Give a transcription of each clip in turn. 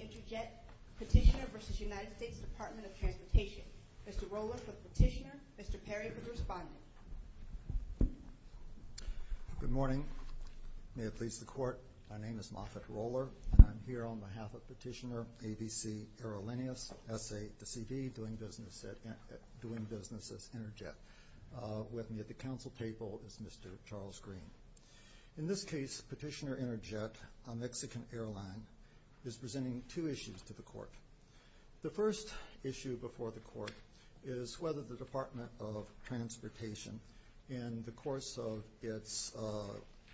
Interjet, Petitioner v. United States Department of Transportation. Mr. Roller for Petitioner, Mr. Perry for the Respondent. Good morning. May it please the Court, my name is Moffett Roller and I'm here on behalf of Petitioner A. B. C. Aerolineas, S.A. de C. v. Doing Business as Interjet. With me at the Council table is Mr. Charles Green. In this case, Petitioner Interjet, a Mexican airline, is presenting two issues to the Court. The first issue before the Court is whether the Department of Transportation, in the course of its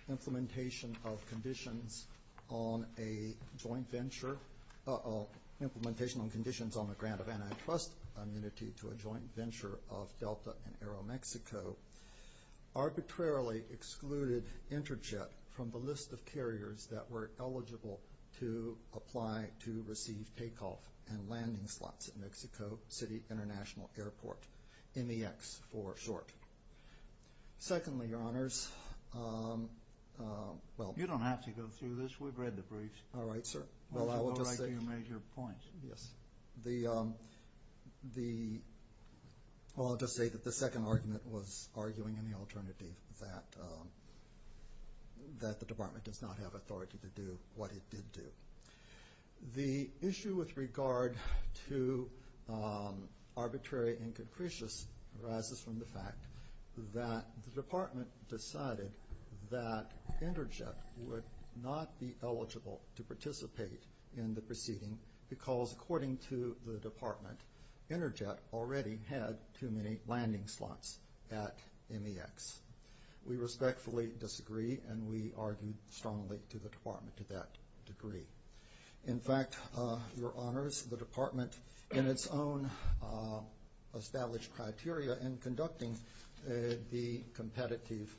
implementation of conditions on a joint venture, implementation on conditions on the grant of antitrust immunity to a joint venture of Delta and Aeromexico, arbitrarily excluded Interjet from the list of carriers that were eligible to apply to receive takeoff and landing slots at Mexico City International Airport, MEX, for short. Secondly, Your Honors, well... You don't have to go through this. We've read the briefs. All right, sir. I'll just say that the second argument was arguing in the alternative that the Department does not have authority to do what it did do. The second argument, in a way, inconcretious arises from the fact that the Department decided that Interjet would not be eligible to participate in the proceeding because, according to the Department, Interjet already had too many landing slots at MEX. We respectfully disagree and we argue strongly to the Department to that degree. In fact, Your Honors, the Department in its own established criteria in conducting the competitive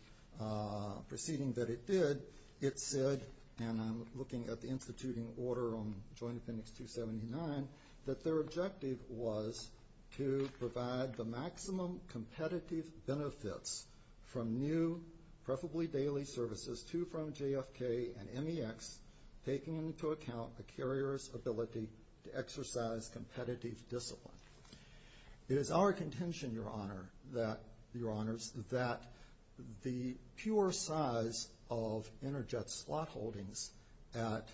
proceeding that it did, it said, and I'm looking at the instituting order on Joint Appendix 279, that their objective was to provide the maximum competitive benefits from new, preferably daily, services to, from It is our contention, Your Honors, that the pure size of Interjet slot holdings at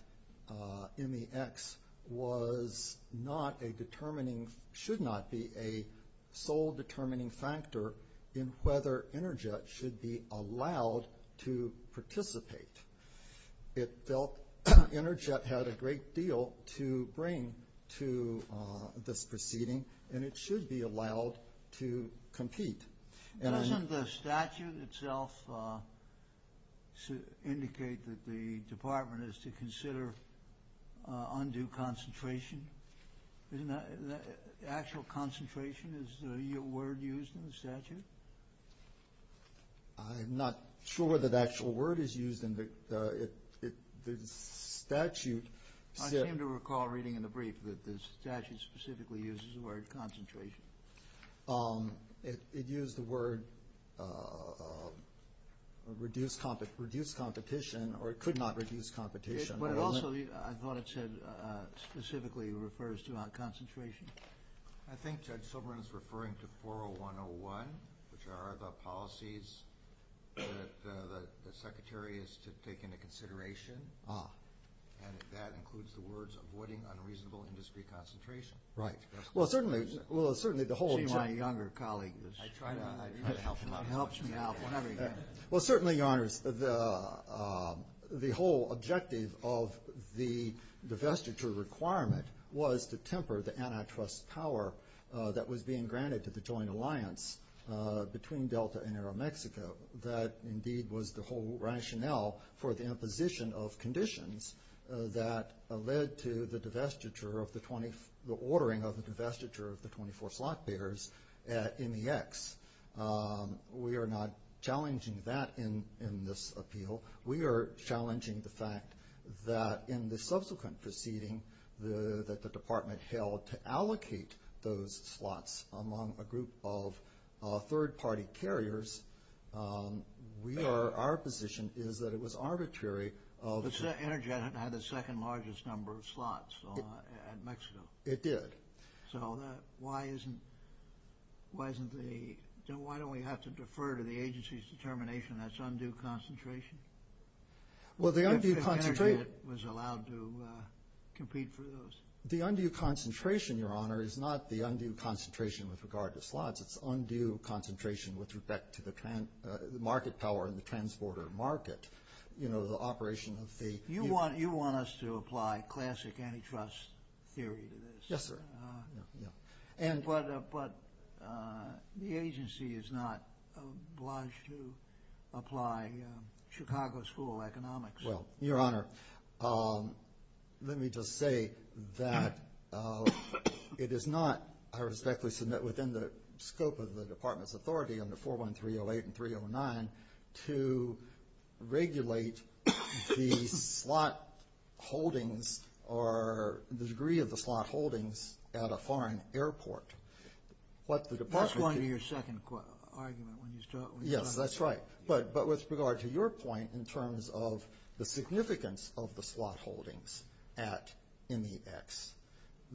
MEX was not a determining, should not be a sole determining factor in whether Interjet should be allowed to participate. It felt Interjet had a great deal to bring to this proceeding and it should be allowed to compete. Doesn't the statute itself indicate that the Department is to consider undue concentration? Isn't that, actual concentration is the word used in the statute? I'm not sure that actual word is used in the statute. I seem to recall reading in the brief that the statute specifically uses the word concentration. It used the word reduce competition, or it could not reduce competition. But it also, I thought it said specifically refers to concentration. I think Judge Silberman is referring to 401.01, which are the policies that the Secretary is to take into consideration, and that includes the words avoiding unreasonable industry concentration. Right. Well certainly, well certainly the younger colleague helps me out whenever he can. Well certainly, Your Honors, the whole objective of the divestiture requirement was to temper the antitrust power that was being granted to the joint alliance between Delta and Aeromexico. That indeed was the whole rationale for the imposition of conditions that led to the divestiture of the 20, the 20, at MEX. We are not challenging that in this appeal. We are challenging the fact that in the subsequent proceeding that the Department held to allocate those slots among a group of third party carriers, we are, our position is that it was arbitrary. Energet had the second largest number of slots at Mexico. It did. So that, why isn't, why isn't the, why don't we have to defer to the agency's determination that's undue concentration? Well the undue concentration. The energy that was allowed to compete for those. The undue concentration, Your Honor, is not the undue concentration with regard to slots. It's undue concentration with respect to the market power and the transporter market. You know, the agency has to apply classic antitrust theory to this. Yes, sir. And, but the agency is not obliged to apply Chicago School of Economics. Well, Your Honor, let me just say that it is not, I respectfully submit, within the scope of the Department's authority under to regulate the slot holdings or the degree of the slot holdings at a foreign airport. That's going to be your second argument when you start. Yes, that's right. But with regard to your point in terms of the significance of the slot holdings at NEX,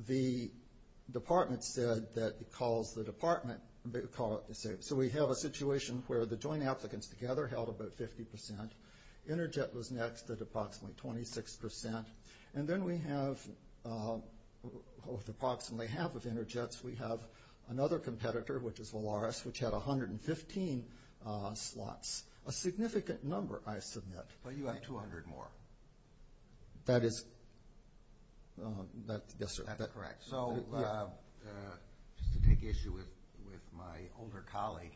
the Department said that because the Department, so we have a situation where the joint applicants together held about 50%. Enerjet was next at approximately 26%. And then we have, with approximately half of Enerjet's, we have another competitor, which is Volaris, which had 115 slots. A significant number, I submit. But you have 200 more. That is, yes, sir. That's correct. So, just to get you with my older colleague,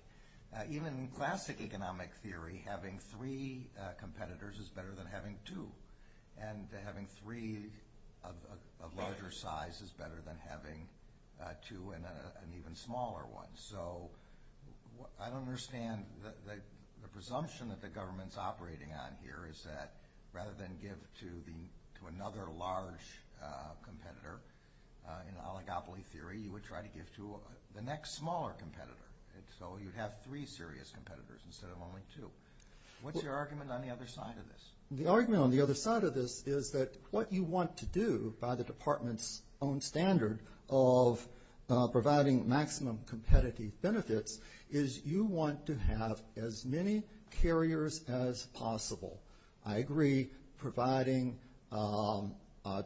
even classic economic theory, having three competitors is better than having two. And having three of larger size is better than having two and an even smaller one. So, I don't understand the presumption that the government's operating on here is that rather than give to another large competitor, in oligopoly theory, you would try to give to the next smaller competitor. And so, you'd have three serious competitors instead of only two. What's your argument on the other side of this? The argument on the other side of this is that what you want to do by the Department's own standard of providing maximum competitive benefits is you want to have as many carriers as possible. I agree, providing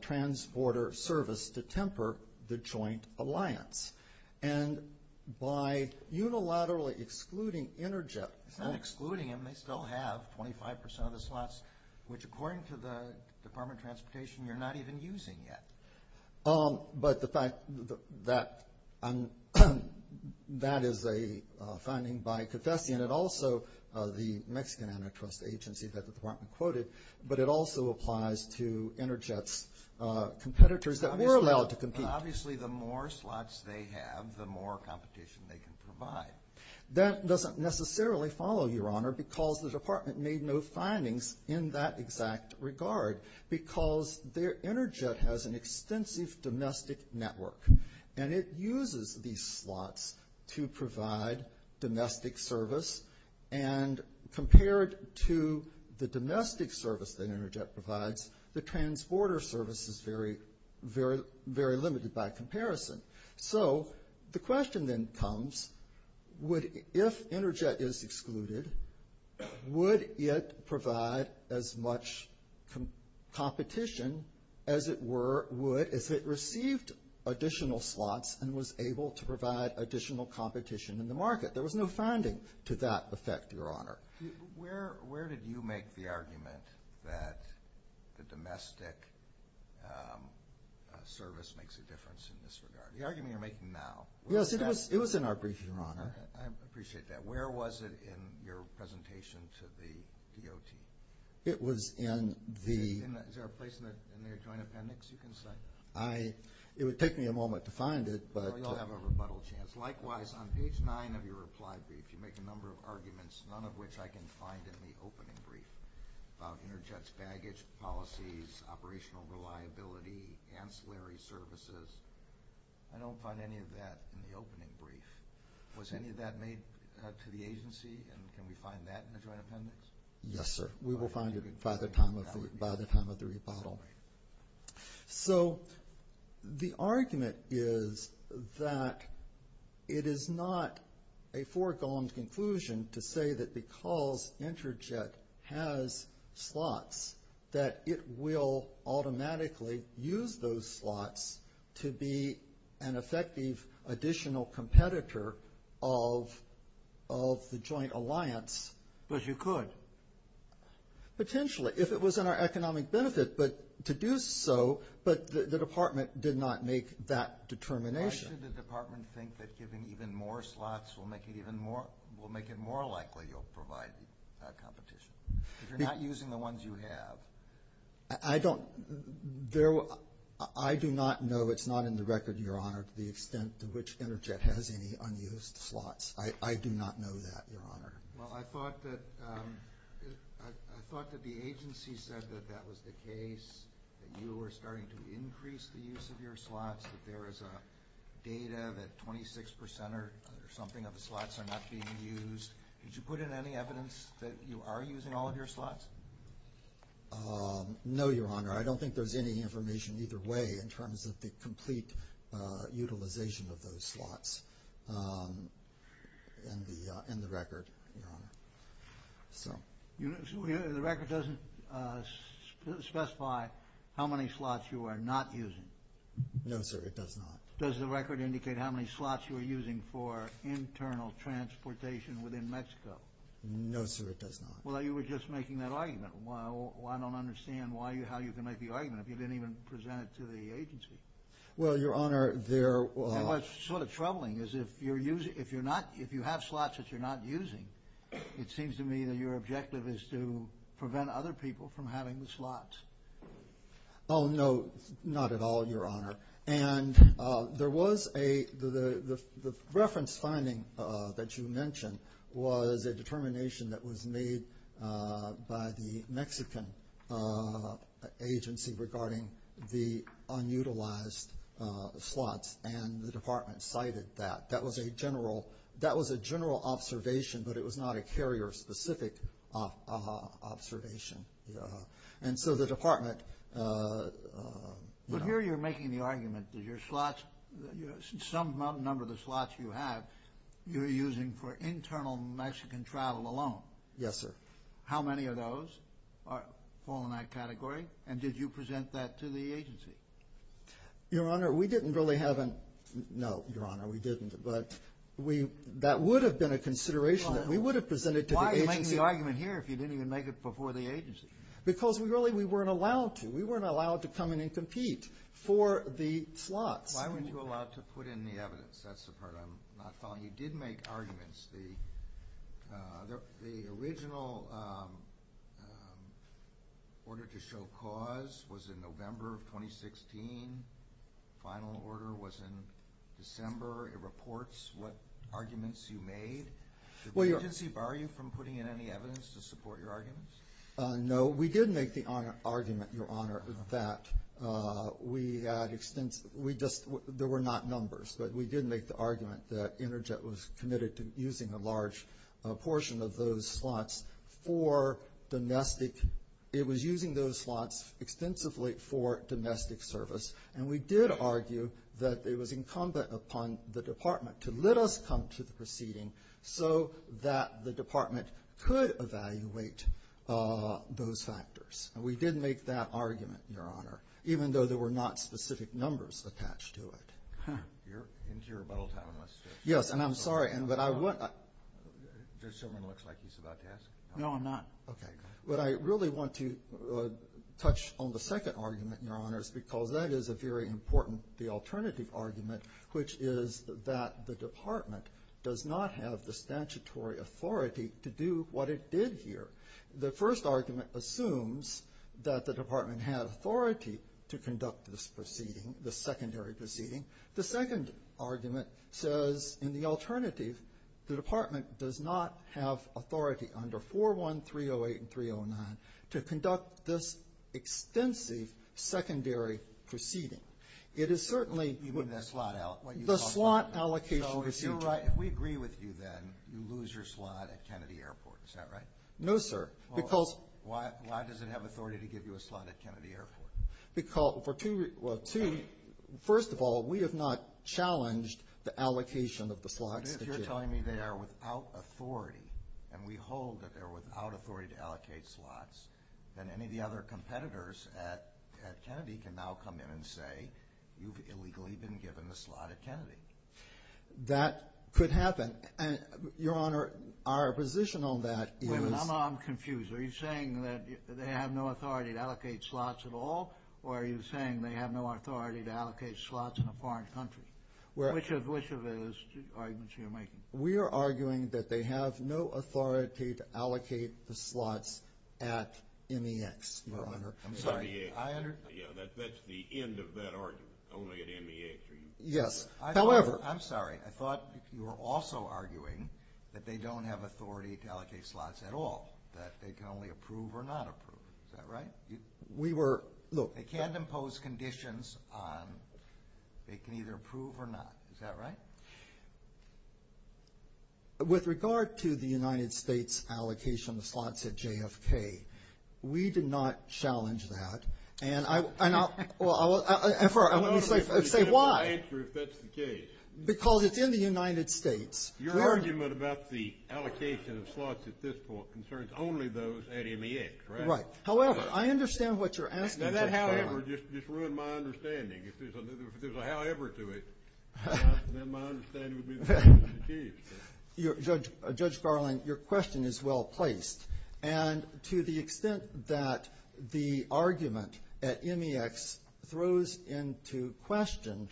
transporter service to temper the joint alliance. And by unilaterally excluding Enerjet. It's not excluding them. They still have 25% of the slots, which according to the Department of Transportation, you're not even using yet. But the fact that that is a finding by Confessian and also the Mexican Antitrust Agency that the Department quoted, but it also applies to Enerjet's competitors that were allowed to compete. Obviously, the more slots they have, the more competition they can provide. That doesn't necessarily follow, Your Honor, because the Department made no findings in that exact regard. Because Enerjet has an extensive domestic network. And it uses these slots to provide domestic service. And compared to the domestic service that Enerjet provides, the transporter service is very limited by comparison. So, the question then comes, if Enerjet is excluded, would it yet provide as much competition as it received additional slots and was able to provide additional competition in the market? There was no finding to that effect, Your Honor. Where did you make the argument that the domestic service makes a difference in this regard? The argument you're making now. Yes, it was in our brief, Your Honor. I appreciate that. Where was it in your presentation to the DOT? It was in the... Is there a place in their joint appendix you can cite? It would take me a moment to find it, but... You'll have a rebuttal chance. Likewise, on page nine of your reply brief, you make a number of arguments, none of which I can find in the opening brief, about Enerjet's baggage policies, operational reliability, ancillary services. I don't find any of that in the reply to the agency, and can we find that in the joint appendix? Yes, sir. We will find it by the time of the rebuttal. So, the argument is that it is not a foregone conclusion to say that because Enerjet has slots that it will automatically use those slots to be an ally of the joint alliance. But you could. Potentially, if it was in our economic benefit, but to do so, but the department did not make that determination. Why should the department think that giving even more slots will make it more likely you'll provide competition? If you're not using the ones you have... I do not know. It's not in the record, Your Honor. Well, I thought that the agency said that that was the case, that you were starting to increase the use of your slots, that there is data that 26 percent or something of the slots are not being used. Could you put in any evidence that you are using all of your slots? No, Your Honor. I don't think there's any information either way in terms of the record. The record doesn't specify how many slots you are not using? No, sir, it does not. Does the record indicate how many slots you are using for internal transportation within Mexico? No, sir, it does not. Well, you were just making that argument. I don't understand how you can make the argument if you didn't even present it to the agency. Well, Your Honor, there... And what's sort of troubling is if you have slots that you're not using, it seems to me that your objective is to prevent other people from having the slots. Oh, no, not at all, Your Honor. And there was a... the reference finding that you mentioned was a determination that was made by the Mexican agency regarding the unutilized slots, and the Department cited that. That was a general... that was a general observation, but it was not a carrier-specific observation. And so the Department... Well, here you're making the argument that your slots... some number of the slots you have, you're using for internal Mexican travel alone. Yes, sir. How many of those fall in that category, and did you present that to the agency? Your Honor, we didn't really have a... no, Your Honor, we didn't, but we... that would have been a consideration that we would have presented to the agency. Why are you making the argument here if you didn't even make it before the agency? Because we really... we weren't allowed to. We weren't allowed to come in and compete for the slots. Why weren't you allowed to put in the evidence? That's the part I'm not following. You did make arguments. The original order to show cause was in November of 2016. Final order was in December. It reports what arguments you made. Did the agency bar you from putting in any evidence to support your arguments? No, we did make the argument, Your Honor, that we had extensive... we just... there were not numbers, but we did make the argument that Interjet was committed to using a large portion of those slots for domestic... it was using those slots extensively for domestic service, and we did argue that it was incumbent upon the department to let us come to the proceeding so that the department could evaluate those factors. We did make that argument, Your Honor, even though there were not specific numbers attached to it. You're into your rebuttal time, and let's just... Yes, and I'm sorry, but I want... there's someone who looks like he's about to ask. No, I'm not. Okay. But I really want to touch on the second argument, Your Honors, because that is a very important alternative argument, which is that the department does not have the statutory authority to do what it did here. The first argument assumes that the department had authority to conduct this proceeding, the secondary proceeding. The second argument says, in the alternative, the department does not have authority under 41, 308, and 309 to conduct this extensive secondary proceeding. It is certainly... You mean the slot allocation? The slot allocation If we agree with you then, you lose your slot at Kennedy Airport. Is that right? No, sir, because... Why does it have authority to give you a slot at Kennedy Airport? Because, well, first of all, we have not challenged the allocation of the slots. But if you're telling me they are without authority, and we hold that they're without authority to allocate slots, then any of the other competitors at Kennedy can now come in and say, you've illegally been That could happen. Your Honor, our position on that is... Wait a minute, I'm confused. Are you saying that they have no authority to allocate slots at all, or are you saying they have no authority to allocate slots in a foreign country? Which of those arguments are you making? We are arguing that they have no authority to allocate the slots at MEX, Your Honor. That's the end of that argument. Only at MEX are you... Yes. However, I'm sorry. I thought you were also arguing that they don't have authority to allocate slots at all, that they can only approve or not approve. Is that right? We were... Look, they can't impose conditions on... They can either approve or not. Is that right? With regard to the United States allocation of slots at JFK, we did not challenge that. And I... And for... I want you to say why. Because it's in the United States. Your argument about the allocation of slots at this point concerns only those at MEX, correct? Right. However, I understand what you're asking, Judge Garland. Now, that however just ruined my understanding. If there's well-placed. And to the extent that the argument at MEX throws into question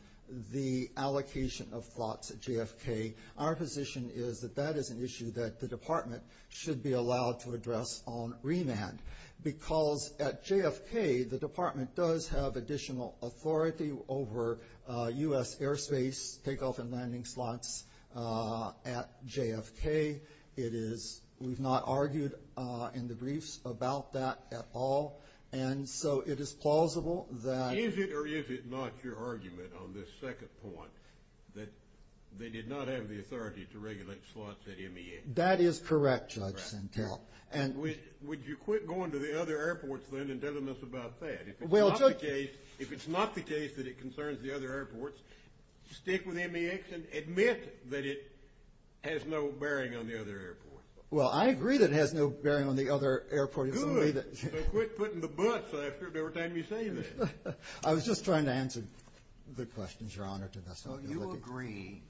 the allocation of slots at JFK, our position is that that is an issue that the Department should be allowed to address on remand. Because at JFK, the Department does have additional authority over U.S. airspace takeoff and landing slots at JFK. It is... We've not argued in the briefs about that at all. And so it is plausible that... Is it or is it not your argument on this second point that they did not have the authority to regulate slots at MEX? That is correct, Judge Sentelle. And... Would you quit going to the other airports then and If it's not the case that it concerns the other airports, stick with MEX and admit that it has no bearing on the other airports. Well, I agree that it has no bearing on the other airports. Good. So quit putting the butts after every time you say that. I was just trying to answer the questions, Your Honor. So you agree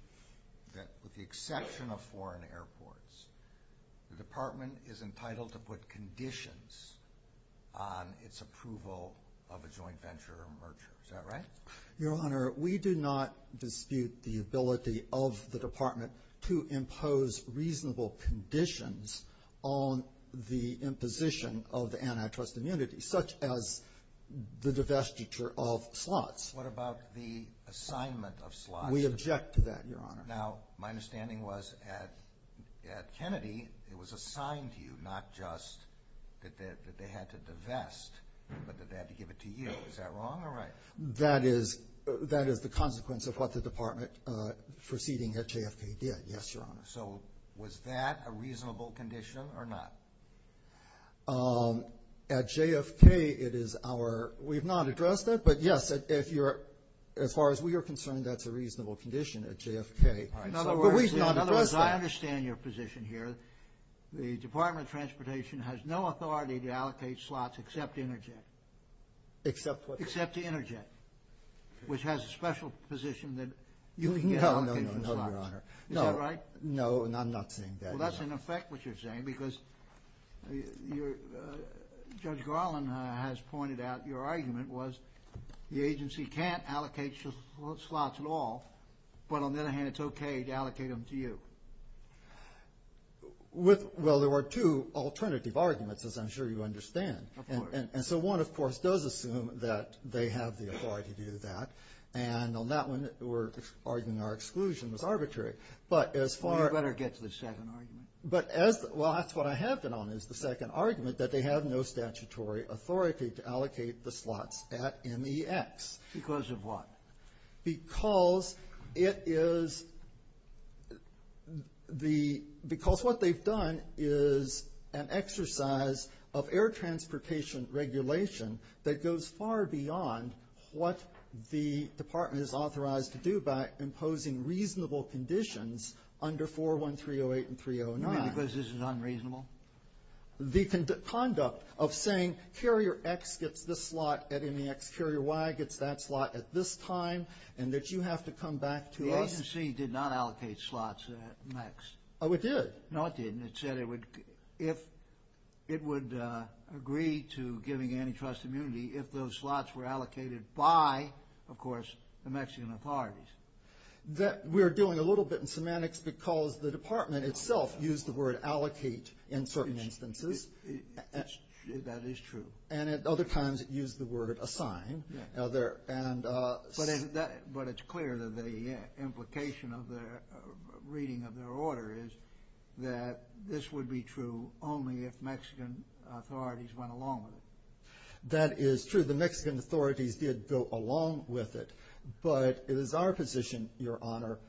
that with the exception of foreign Is that right? Your Honor, we do not dispute the ability of the Department to impose reasonable conditions on the imposition of antitrust immunity, such as the divestiture of slots. What about the assignment of slots? We object to that, Your Honor. Now, my understanding was at Kennedy, it was assigned to you, not just that they had to divest, but that they had to give it to you. Is that wrong or right? That is the consequence of what the Department proceeding at JFK did, yes, Your Honor. So was that a reasonable condition or not? At JFK, it is our... We've not addressed that, but yes, as far as we are concerned, that's a reasonable condition at JFK. But we've not addressed that. In other words, I understand your position here. The Department of Transportation has no authority to allocate slots except to Interjet. Except what? Except to Interjet, which has a special position that you can allocate slots. No, no, no, Your Honor. Is that right? No, I'm not saying that. Well, that's in effect what you're saying, because Judge Garland has pointed out your argument was the agency can't allocate slots at all, but on the other hand, it's okay to allocate them to you. Well, there were two alternative arguments, as I'm sure you understand. Of course. And so one, of course, does assume that they have the authority to do that. And on that one, we're arguing our exclusion was arbitrary. But as far... Well, you better get to the second argument. But as... Well, that's what I have been on, is the second argument, that they have no statutory authority to allocate the slots at MEX. Because of what? Because it is the... Because what they've done is an exercise of air transportation regulation that goes far beyond what the Department is authorized to do by imposing reasonable conditions under 41308 and 309. You mean because this is unreasonable? The conduct of saying carrier X gets this slot at MEX, carrier Y gets that slot at this time, and that you have to come back to us... The agency did not allocate slots at MEX. Oh, it did? No, it didn't. It said it would agree to giving antitrust immunity if those slots were allocated by, of course, the Mexican authorities. We're doing a little bit in semantics because the And at other times it used the word assign. But it's clear that the implication of their reading of their order is that this would be true only if Mexican authorities went along with it. That is true. The Mexican authorities did go along with it. But it is our position, Your Honor,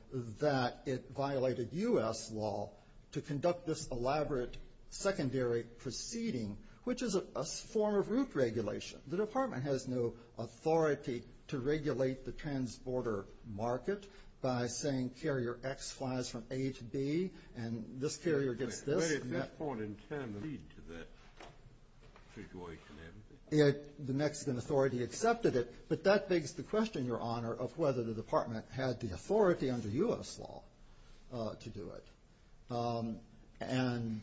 that it violated U.S. law to conduct this elaborate secondary proceeding, which is a form of route regulation. The Department has no authority to regulate the transborder market by saying carrier X flies from A to B, and this carrier gets this. But at this point in time, did it lead to that situation? The Mexican authority accepted it, but that begs the question, Your Honor, of whether the Department had the authority under U.S. law to do it. And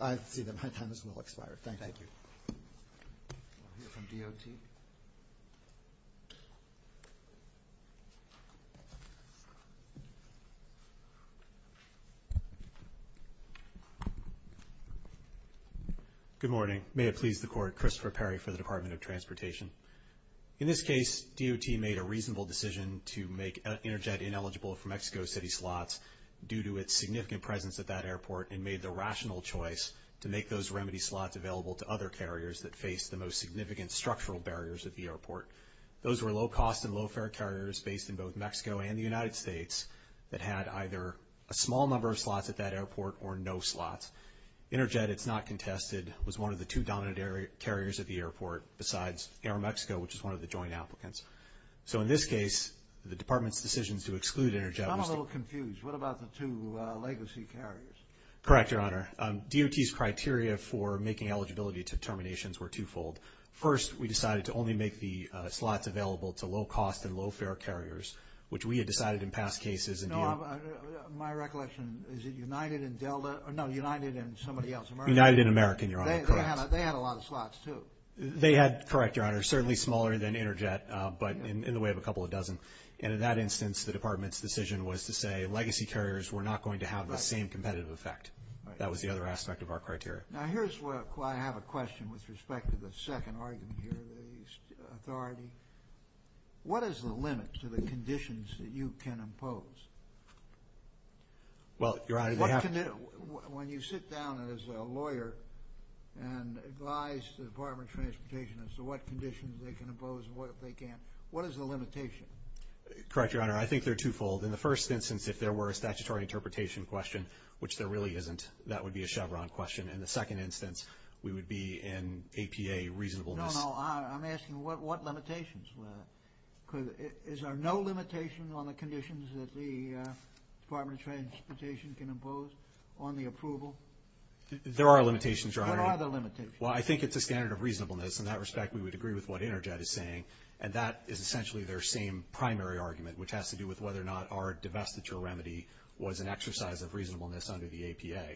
I see that my time has well expired. Thank you. Thank you. We'll hear from DOT. Good morning. May it please the Court, Christopher Perry for the Department of Transportation. In this case, DOT made a reasonable decision to make Interjet ineligible for Mexico City slots due to its significant presence at that airport and made the rational choice to make those remedy slots available to other carriers that face the most significant structural barriers at the airport. Those were low-cost and low-fare carriers based in both Mexico and the United States that had either a small number of slots at that airport or no slots. Interjet, it's not contested, was one of the two dominant carriers at the airport besides Aeromexico, which is one of the joint applicants. So in this case, the Department's decision to exclude Interjet was to... I'm a little confused. What about the two legacy carriers? Correct, Your Honor. DOT's criteria for making eligibility determinations were twofold. First, we decided to only make the slots available to low-cost and low-fare carriers, which we had decided in past cases... No, my recollection, is it United and Delta? No, United and somebody else. United and American, Your Honor. Correct. They had a lot of slots, too. They had, correct, Your Honor, certainly smaller than Interjet, but in the way of a couple of dozen. And in that instance, the Department's decision was to say legacy carriers were not going to have the same competitive effect. That was the other aspect of our criteria. Now, here's where I have a question with respect to the second argument here, the authority. What is the limit to the conditions that you can impose? Well, Your Honor, they have... When you sit down as a lawyer and advise the Department of Transportation as to what conditions they can impose and what they can't, what is the limitation? Correct, Your Honor. I think they're twofold. In the first instance, if there were a statutory interpretation question, which there really isn't, that would be a Chevron question. In the second instance, we would be in APA reasonableness. No, no. I'm asking what limitations were there? Is there no limitation on the conditions that the Department of Transportation can impose on the approval? There are limitations, Your Honor. What are the limitations? Well, I think it's a standard of reasonableness. In that respect, we would agree with what Interjet is saying, and that is essentially their same primary argument, which has to do with whether or not our divestiture remedy was an exercise of reasonableness under the APA.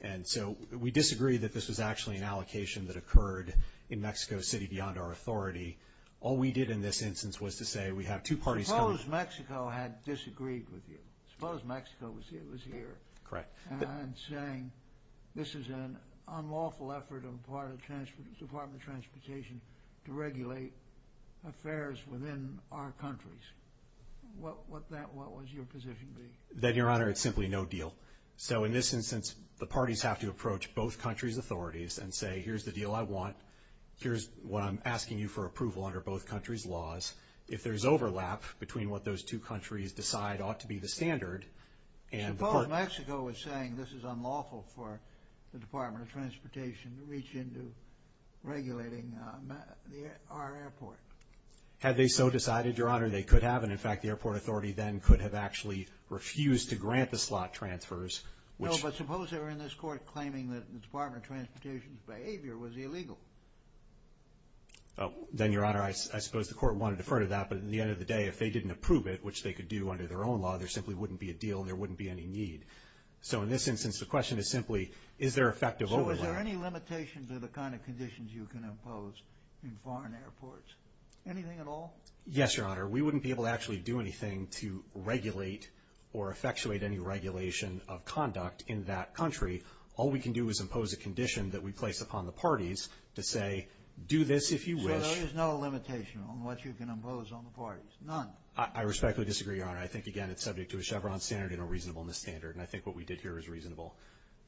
And so we disagree that this was actually an allocation that occurred in Mexico City beyond our authority. All we did in this instance was to say we have two parties coming... Suppose Mexico had disagreed with you. Suppose Mexico was here. Correct. And saying this is an unlawful effort on the part of the Department of Transportation to regulate affairs within our countries. What would your position be? Then, Your Honor, it's simply no deal. So in this instance, the parties have to approach both countries' authorities and say, here's the deal I want. Here's what I'm asking you for approval under both countries' laws. If there's overlap between what those two countries decide ought to be the standard and... Suppose Mexico was saying this is unlawful for the Department of Transportation to reach into regulating our airport. Had they so decided, Your Honor, they could have. And in fact, the airport authority then could have actually refused to grant the slot transfers, which... No, but suppose they were in this court claiming that the Department of Transportation's behavior was illegal. Then, Your Honor, I suppose the court wanted to defer to that. But at the end of the day, if they didn't approve it, which they could do under their own law, there simply wouldn't be a deal. There wouldn't be any need. So in this instance, the question is simply, is there effective overlap? So is there any limitation to the kind of conditions you can impose in foreign airports? Anything at all? Yes, Your Honor. We wouldn't be able to actually do anything to regulate or effectuate any regulation of conduct in that country. All we can do is impose a condition that we place upon the parties to say, do this if you wish. So there is no limitation on what you can impose on the parties? None? I respectfully disagree, Your Honor. I think, again, it's subject to a Chevron standard and a reasonableness standard. And I think what we did here is reasonable.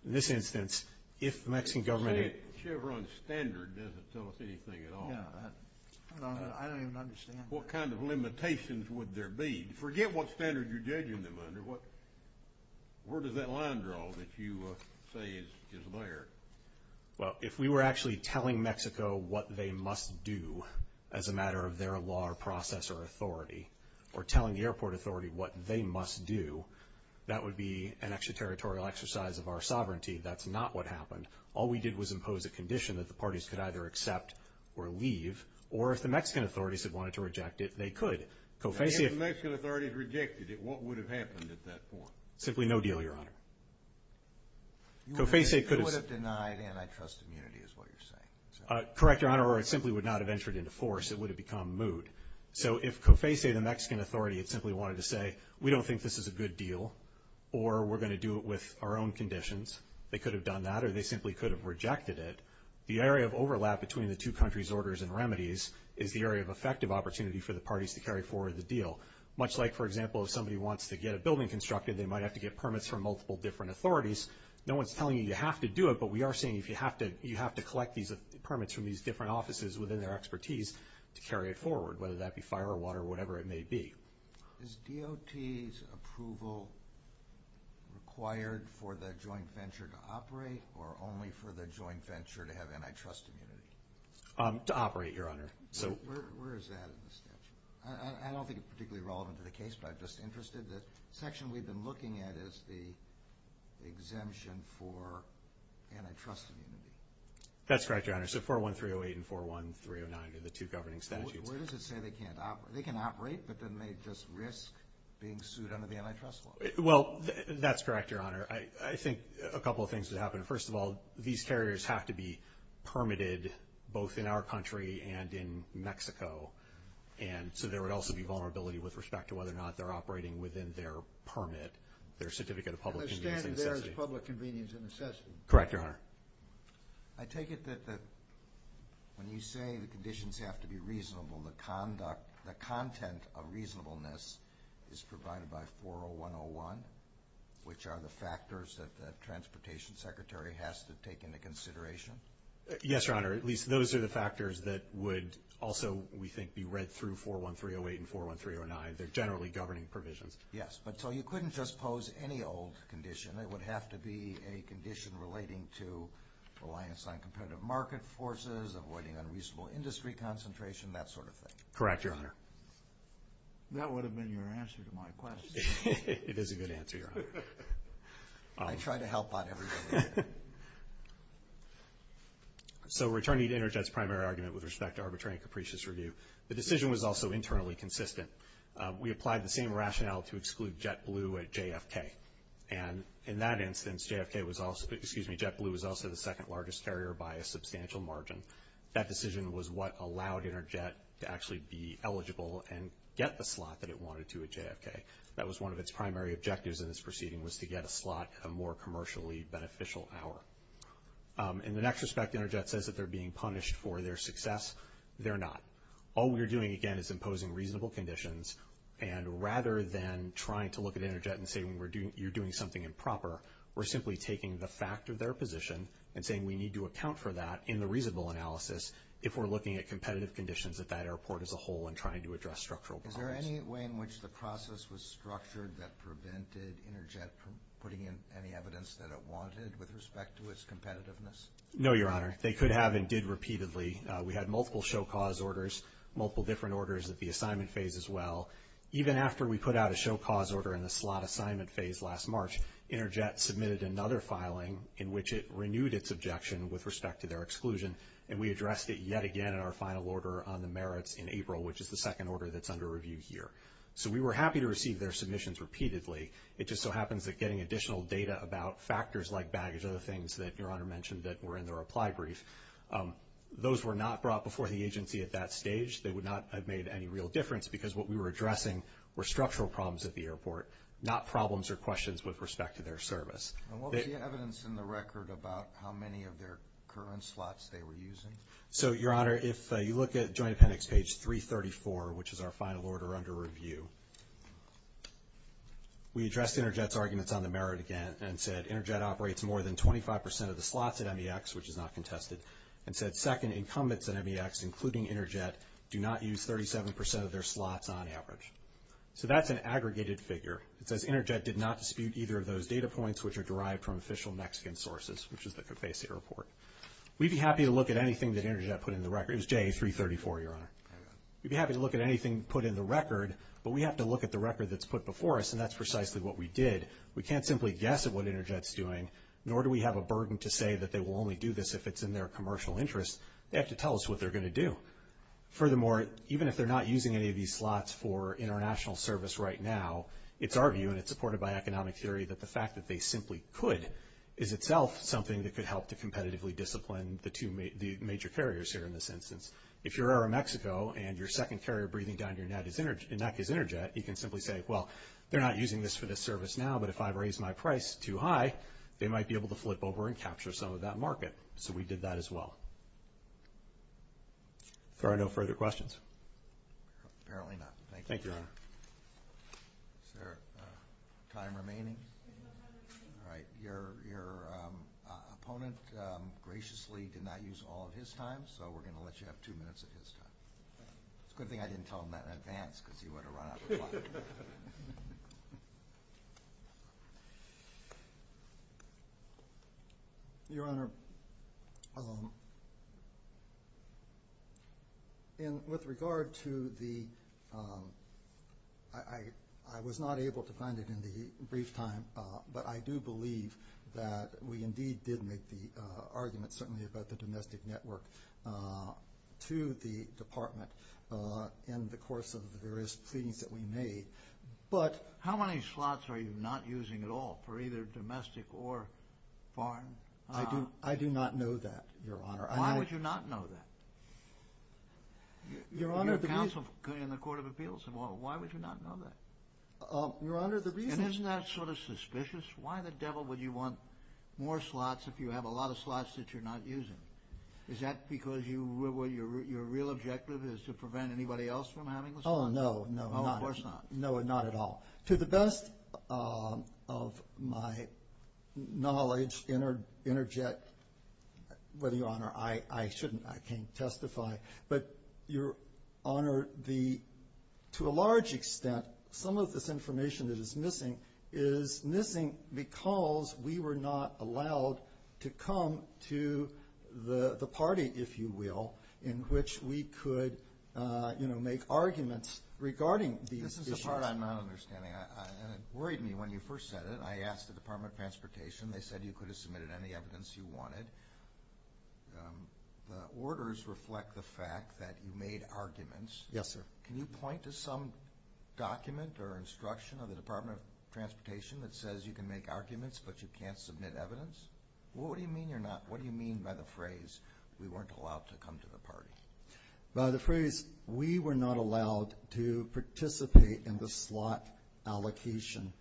In this instance, if the Mexican government... The Chevron standard doesn't tell us anything at all. No, I don't even understand that. What kind of limitations would there be? Forget what standard you're judging them under. Where does that line draw that you say is there? Well, if we were actually telling Mexico what they must do as a matter of their law or process or authority, or telling the airport authority what they must do, that would be an extraterritorial exercise of our sovereignty. That's not what happened. All we did was impose a condition that the parties could either accept or leave, or if the Mexican authorities had wanted to reject it, they could. Now, if the Mexican authorities rejected it, what would have happened at that point? Simply no deal, Your Honor. You would have denied antitrust immunity is what you're saying. Correct, Your Honor, or it simply would not have entered into force. It would have become moot. So if COFESA, the Mexican authority, had simply wanted to say, we don't think this is a good deal, or we're going to do it with our own conditions, they could have done that, or they simply could have rejected it. The area of overlap between the two countries' orders and remedies is the area of effective opportunity for the parties to carry forward the deal. Much like, for example, if somebody wants to get a building constructed, they might have to get permits from multiple different authorities. No one's telling you you have to do it, but we are saying you have to collect these permits from these different offices within their expertise to carry it forward, whether that be fire or water or whatever it may be. Is DOT's approval required for the joint venture to operate, or only for the joint venture to have antitrust immunity? To operate, Your Honor. Where is that in the statute? I don't think it's particularly relevant to the case, but I'm just interested. The section we've been looking at is the exemption for antitrust immunity. That's correct, Your Honor. So 41308 and 41309 are the two governing statutes. Where does it say they can't operate? They can operate, but then they just risk being sued under the antitrust law. Well, that's correct, Your Honor. I think a couple of things would happen. First of all, these carriers have to be permitted both in our country and in Mexico, and so there would also be vulnerability with respect to whether or not they're operating within their permit, their certificate of public convenience and necessity. They're standing there as public convenience and necessity. Correct, Your Honor. I take it that when you say the conditions have to be reasonable, the content of reasonableness is provided by 40101, which are the factors that the Transportation Secretary has to take into consideration? Yes, Your Honor. At least those are the factors that would also, we think, be read through 41308 and 41309. They're generally governing provisions. Yes, but so you couldn't just pose any old condition. It would have to be a condition relating to reliance on competitive market forces, avoiding unreasonable industry concentration, that sort of thing. Correct, Your Honor. That would have been your answer to my question. It is a good answer, Your Honor. I try to help out everybody. So returning to Interjet's primary argument with respect to arbitrary and capricious review, the decision was also internally consistent. We applied the same rationale to exclude JetBlue at JFK, and in that instance JetBlue was also the second-largest carrier by a substantial margin. That decision was what allowed Interjet to actually be eligible and get the slot that it wanted to at JFK. That was one of its primary objectives in this proceeding, was to get a slot at a more commercially beneficial hour. In the next respect, Interjet says that they're being punished for their success. They're not. All we're doing, again, is imposing reasonable conditions, and rather than trying to look at Interjet and say you're doing something improper, we're simply taking the fact of their position and saying we need to account for that in the reasonable analysis if we're looking at competitive conditions at that airport as a whole and trying to address structural problems. Is there any way in which the process was structured that prevented Interjet from putting in any evidence that it wanted with respect to its competitiveness? No, Your Honor. They could have and did repeatedly. We had multiple show cause orders, multiple different orders at the assignment phase as well. Even after we put out a show cause order in the slot assignment phase last March, Interjet submitted another filing in which it renewed its objection with respect to their exclusion, and we addressed it yet again in our final order on the merits in April, which is the second order that's under review here. So we were happy to receive their submissions repeatedly. It just so happens that getting additional data about factors like baggage, other things that Your Honor mentioned that were in the reply brief, those were not brought before the agency at that stage. They would not have made any real difference because what we were addressing were structural problems at the airport, not problems or questions with respect to their service. And what was the evidence in the record about how many of their current slots they were using? So, Your Honor, if you look at Joint Appendix page 334, which is our final order under review, we addressed Interjet's arguments on the merit again and said, Interjet operates more than 25% of the slots at MEX, which is not contested, and said second incumbents at MEX, including Interjet, do not use 37% of their slots on average. So that's an aggregated figure. It says Interjet did not dispute either of those data points, which are derived from official Mexican sources, which is the Capasi report. We'd be happy to look at anything that Interjet put in the record. It was JA334, Your Honor. We'd be happy to look at anything put in the record, but we have to look at the record that's put before us, and that's precisely what we did. We can't simply guess at what Interjet's doing, nor do we have a burden to say that they will only do this if it's in their commercial interest. They have to tell us what they're going to do. Furthermore, even if they're not using any of these slots for international service right now, it's our view, and it's supported by economic theory, that the fact that they simply could is itself something that could help to competitively discipline the two major carriers here in this instance. If you're Aeromexico and your second carrier breathing down your neck is Interjet, you can simply say, well, they're not using this for this service now, but if I raise my price too high, they might be able to flip over and capture some of that market. So we did that as well. Are there no further questions? Apparently not. Thank you, Your Honor. Is there time remaining? All right. Your opponent graciously did not use all of his time, so we're going to let you have two minutes of his time. It's a good thing I didn't tell him that in advance because he would have run out of time. Thank you. Your Honor, with regard to the – I was not able to find it in the brief time, but I do believe that we indeed did make the argument, certainly about the domestic network, to the Department in the course of the various pleadings that we made. But – How many slots are you not using at all for either domestic or foreign? I do not know that, Your Honor. Why would you not know that? Your Honor, the reason – Your counsel in the Court of Appeals, why would you not know that? Your Honor, the reason – And isn't that sort of suspicious? Why the devil would you want more slots if you have a lot of slots that you're not using? Is that because your real objective is to prevent anybody else from having the slots? Oh, no, no. Of course not. No, not at all. To the best of my knowledge, interject, whether, Your Honor, I shouldn't. I can't testify. But, Your Honor, to a large extent, some of this information that is missing is missing because we were not allowed to come to the party, if you will, in which we could make arguments regarding these issues. This is the part I'm not understanding. And it worried me when you first said it. I asked the Department of Transportation. They said you could have submitted any evidence you wanted. The orders reflect the fact that you made arguments. Yes, sir. Can you point to some document or instruction of the Department of Transportation that says you can make arguments but you can't submit evidence? What do you mean by the phrase, we weren't allowed to come to the party? By the phrase, we were not allowed to participate in the slot allocation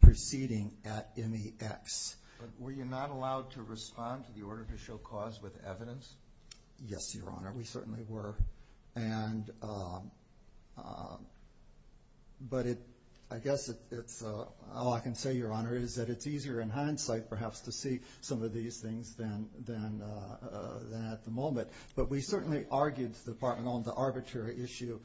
proceeding at MEX. But were you not allowed to respond to the order to show cause with evidence? Yes, Your Honor, we certainly were. But I guess all I can say, Your Honor, is that it's easier in hindsight perhaps to see some of these things than at the moment. But we certainly argued to the Department on the arbitrary issue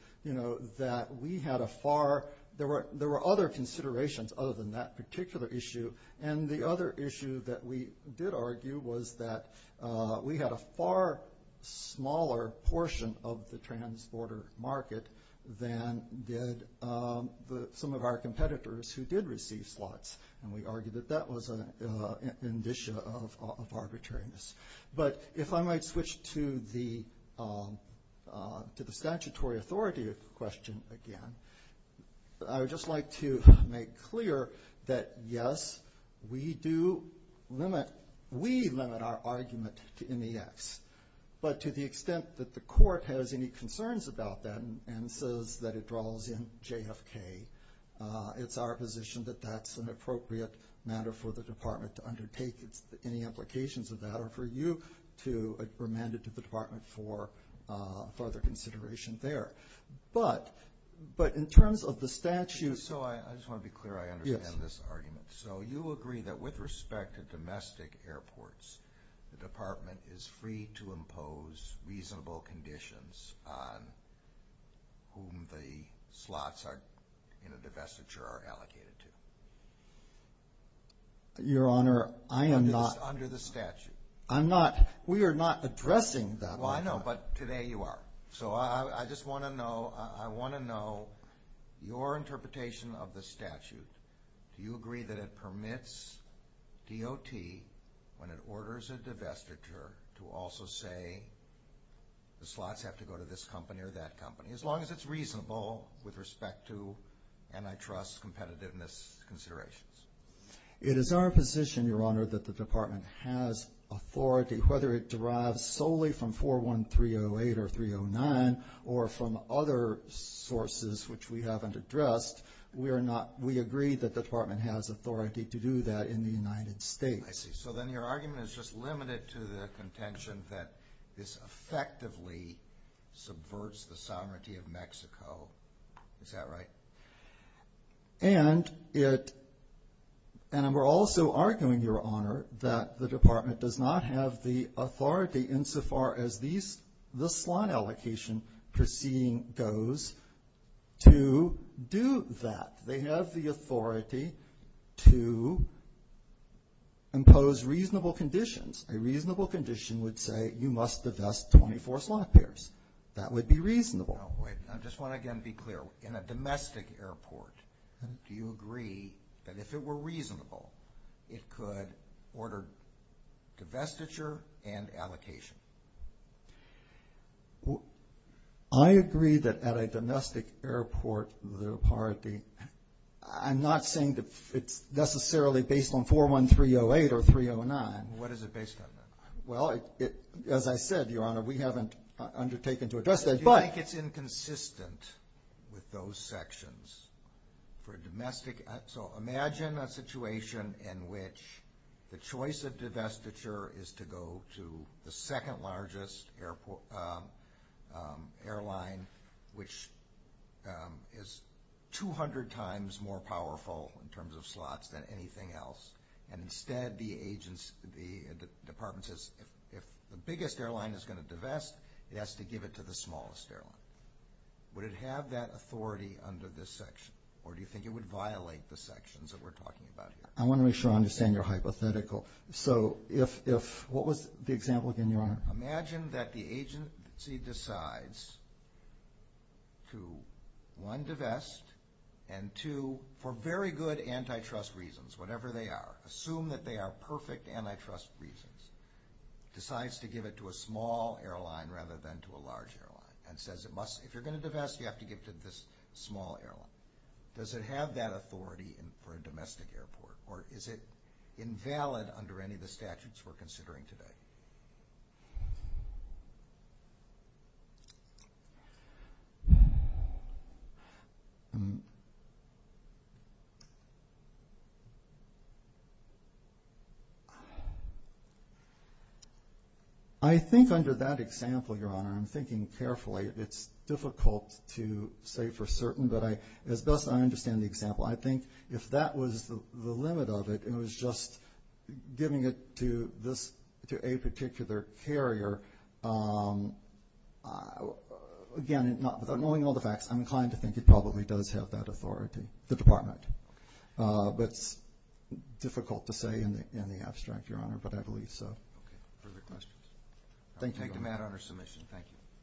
that we had a far – there were other considerations other than that particular issue. And the other issue that we did argue was that we had a far smaller portion of the transborder market than did some of our competitors who did receive slots. And we argued that that was an indicia of arbitrariness. But if I might switch to the statutory authority question again, I would just like to make clear that, yes, we do limit – we limit our argument to MEX. But to the extent that the court has any concerns about that and says that it draws in JFK, it's our position that that's an appropriate matter for the Department to undertake. Any implications of that are for you to remand it to the Department for further consideration there. But in terms of the statute – So I just want to be clear I understand this argument. Yes. So you agree that with respect to domestic airports, the Department is free to impose reasonable conditions on whom the slots in a divestiture are allocated to? Your Honor, I am not – Under the statute. I'm not – we are not addressing that right now. Well, I know, but today you are. So I just want to know – I want to know your interpretation of the statute. Do you agree that it permits DOT, when it orders a divestiture, to also say the slots have to go to this company or that company, as long as it's reasonable with respect to antitrust competitiveness considerations? It is our position, Your Honor, that the Department has authority, whether it derives solely from 41308 or 309 or from other sources which we haven't addressed. We are not – we agree that the Department has authority to do that in the United States. I see. So then your argument is just limited to the contention that this effectively subverts the sovereignty of Mexico. Is that right? And it – and we're also arguing, Your Honor, that the Department does not have the authority insofar as this slot allocation proceeding goes to do that. They have the authority to impose reasonable conditions. A reasonable condition would say you must divest 24 slot pairs. That would be reasonable. Now, wait. I just want to again be clear. In a domestic airport, do you agree that if it were reasonable, it could order divestiture and allocation? I agree that at a domestic airport the authority – I'm not saying that it's necessarily based on 41308 or 309. What is it based on then? Well, as I said, Your Honor, we haven't undertaken to address that. Do you think it's inconsistent with those sections for a domestic – so imagine a situation in which the choice of divestiture is to go to the second largest airline, which is 200 times more powerful in terms of slots than anything else, and instead the department says if the biggest airline is going to divest, it has to give it to the smallest airline. Would it have that authority under this section? Or do you think it would violate the sections that we're talking about here? I want to make sure I understand your hypothetical. Imagine that the agency decides to, one, divest, and two, for very good antitrust reasons, whatever they are, assume that they are perfect antitrust reasons, decides to give it to a small airline rather than to a large airline, and says if you're going to divest, you have to give it to this small airline. Does it have that authority for a domestic airport? Or is it invalid under any of the statutes we're considering today? I think under that example, Your Honor, I'm thinking carefully. It's difficult to say for certain, but as best as I understand the example, I think if that was the limit of it and it was just giving it to a particular carrier, again, without knowing all the facts, I'm inclined to think it probably does have that authority, the department. But it's difficult to say in the abstract, Your Honor, but I believe so. Thank you, Your Honor. That is my final submission. Thank you.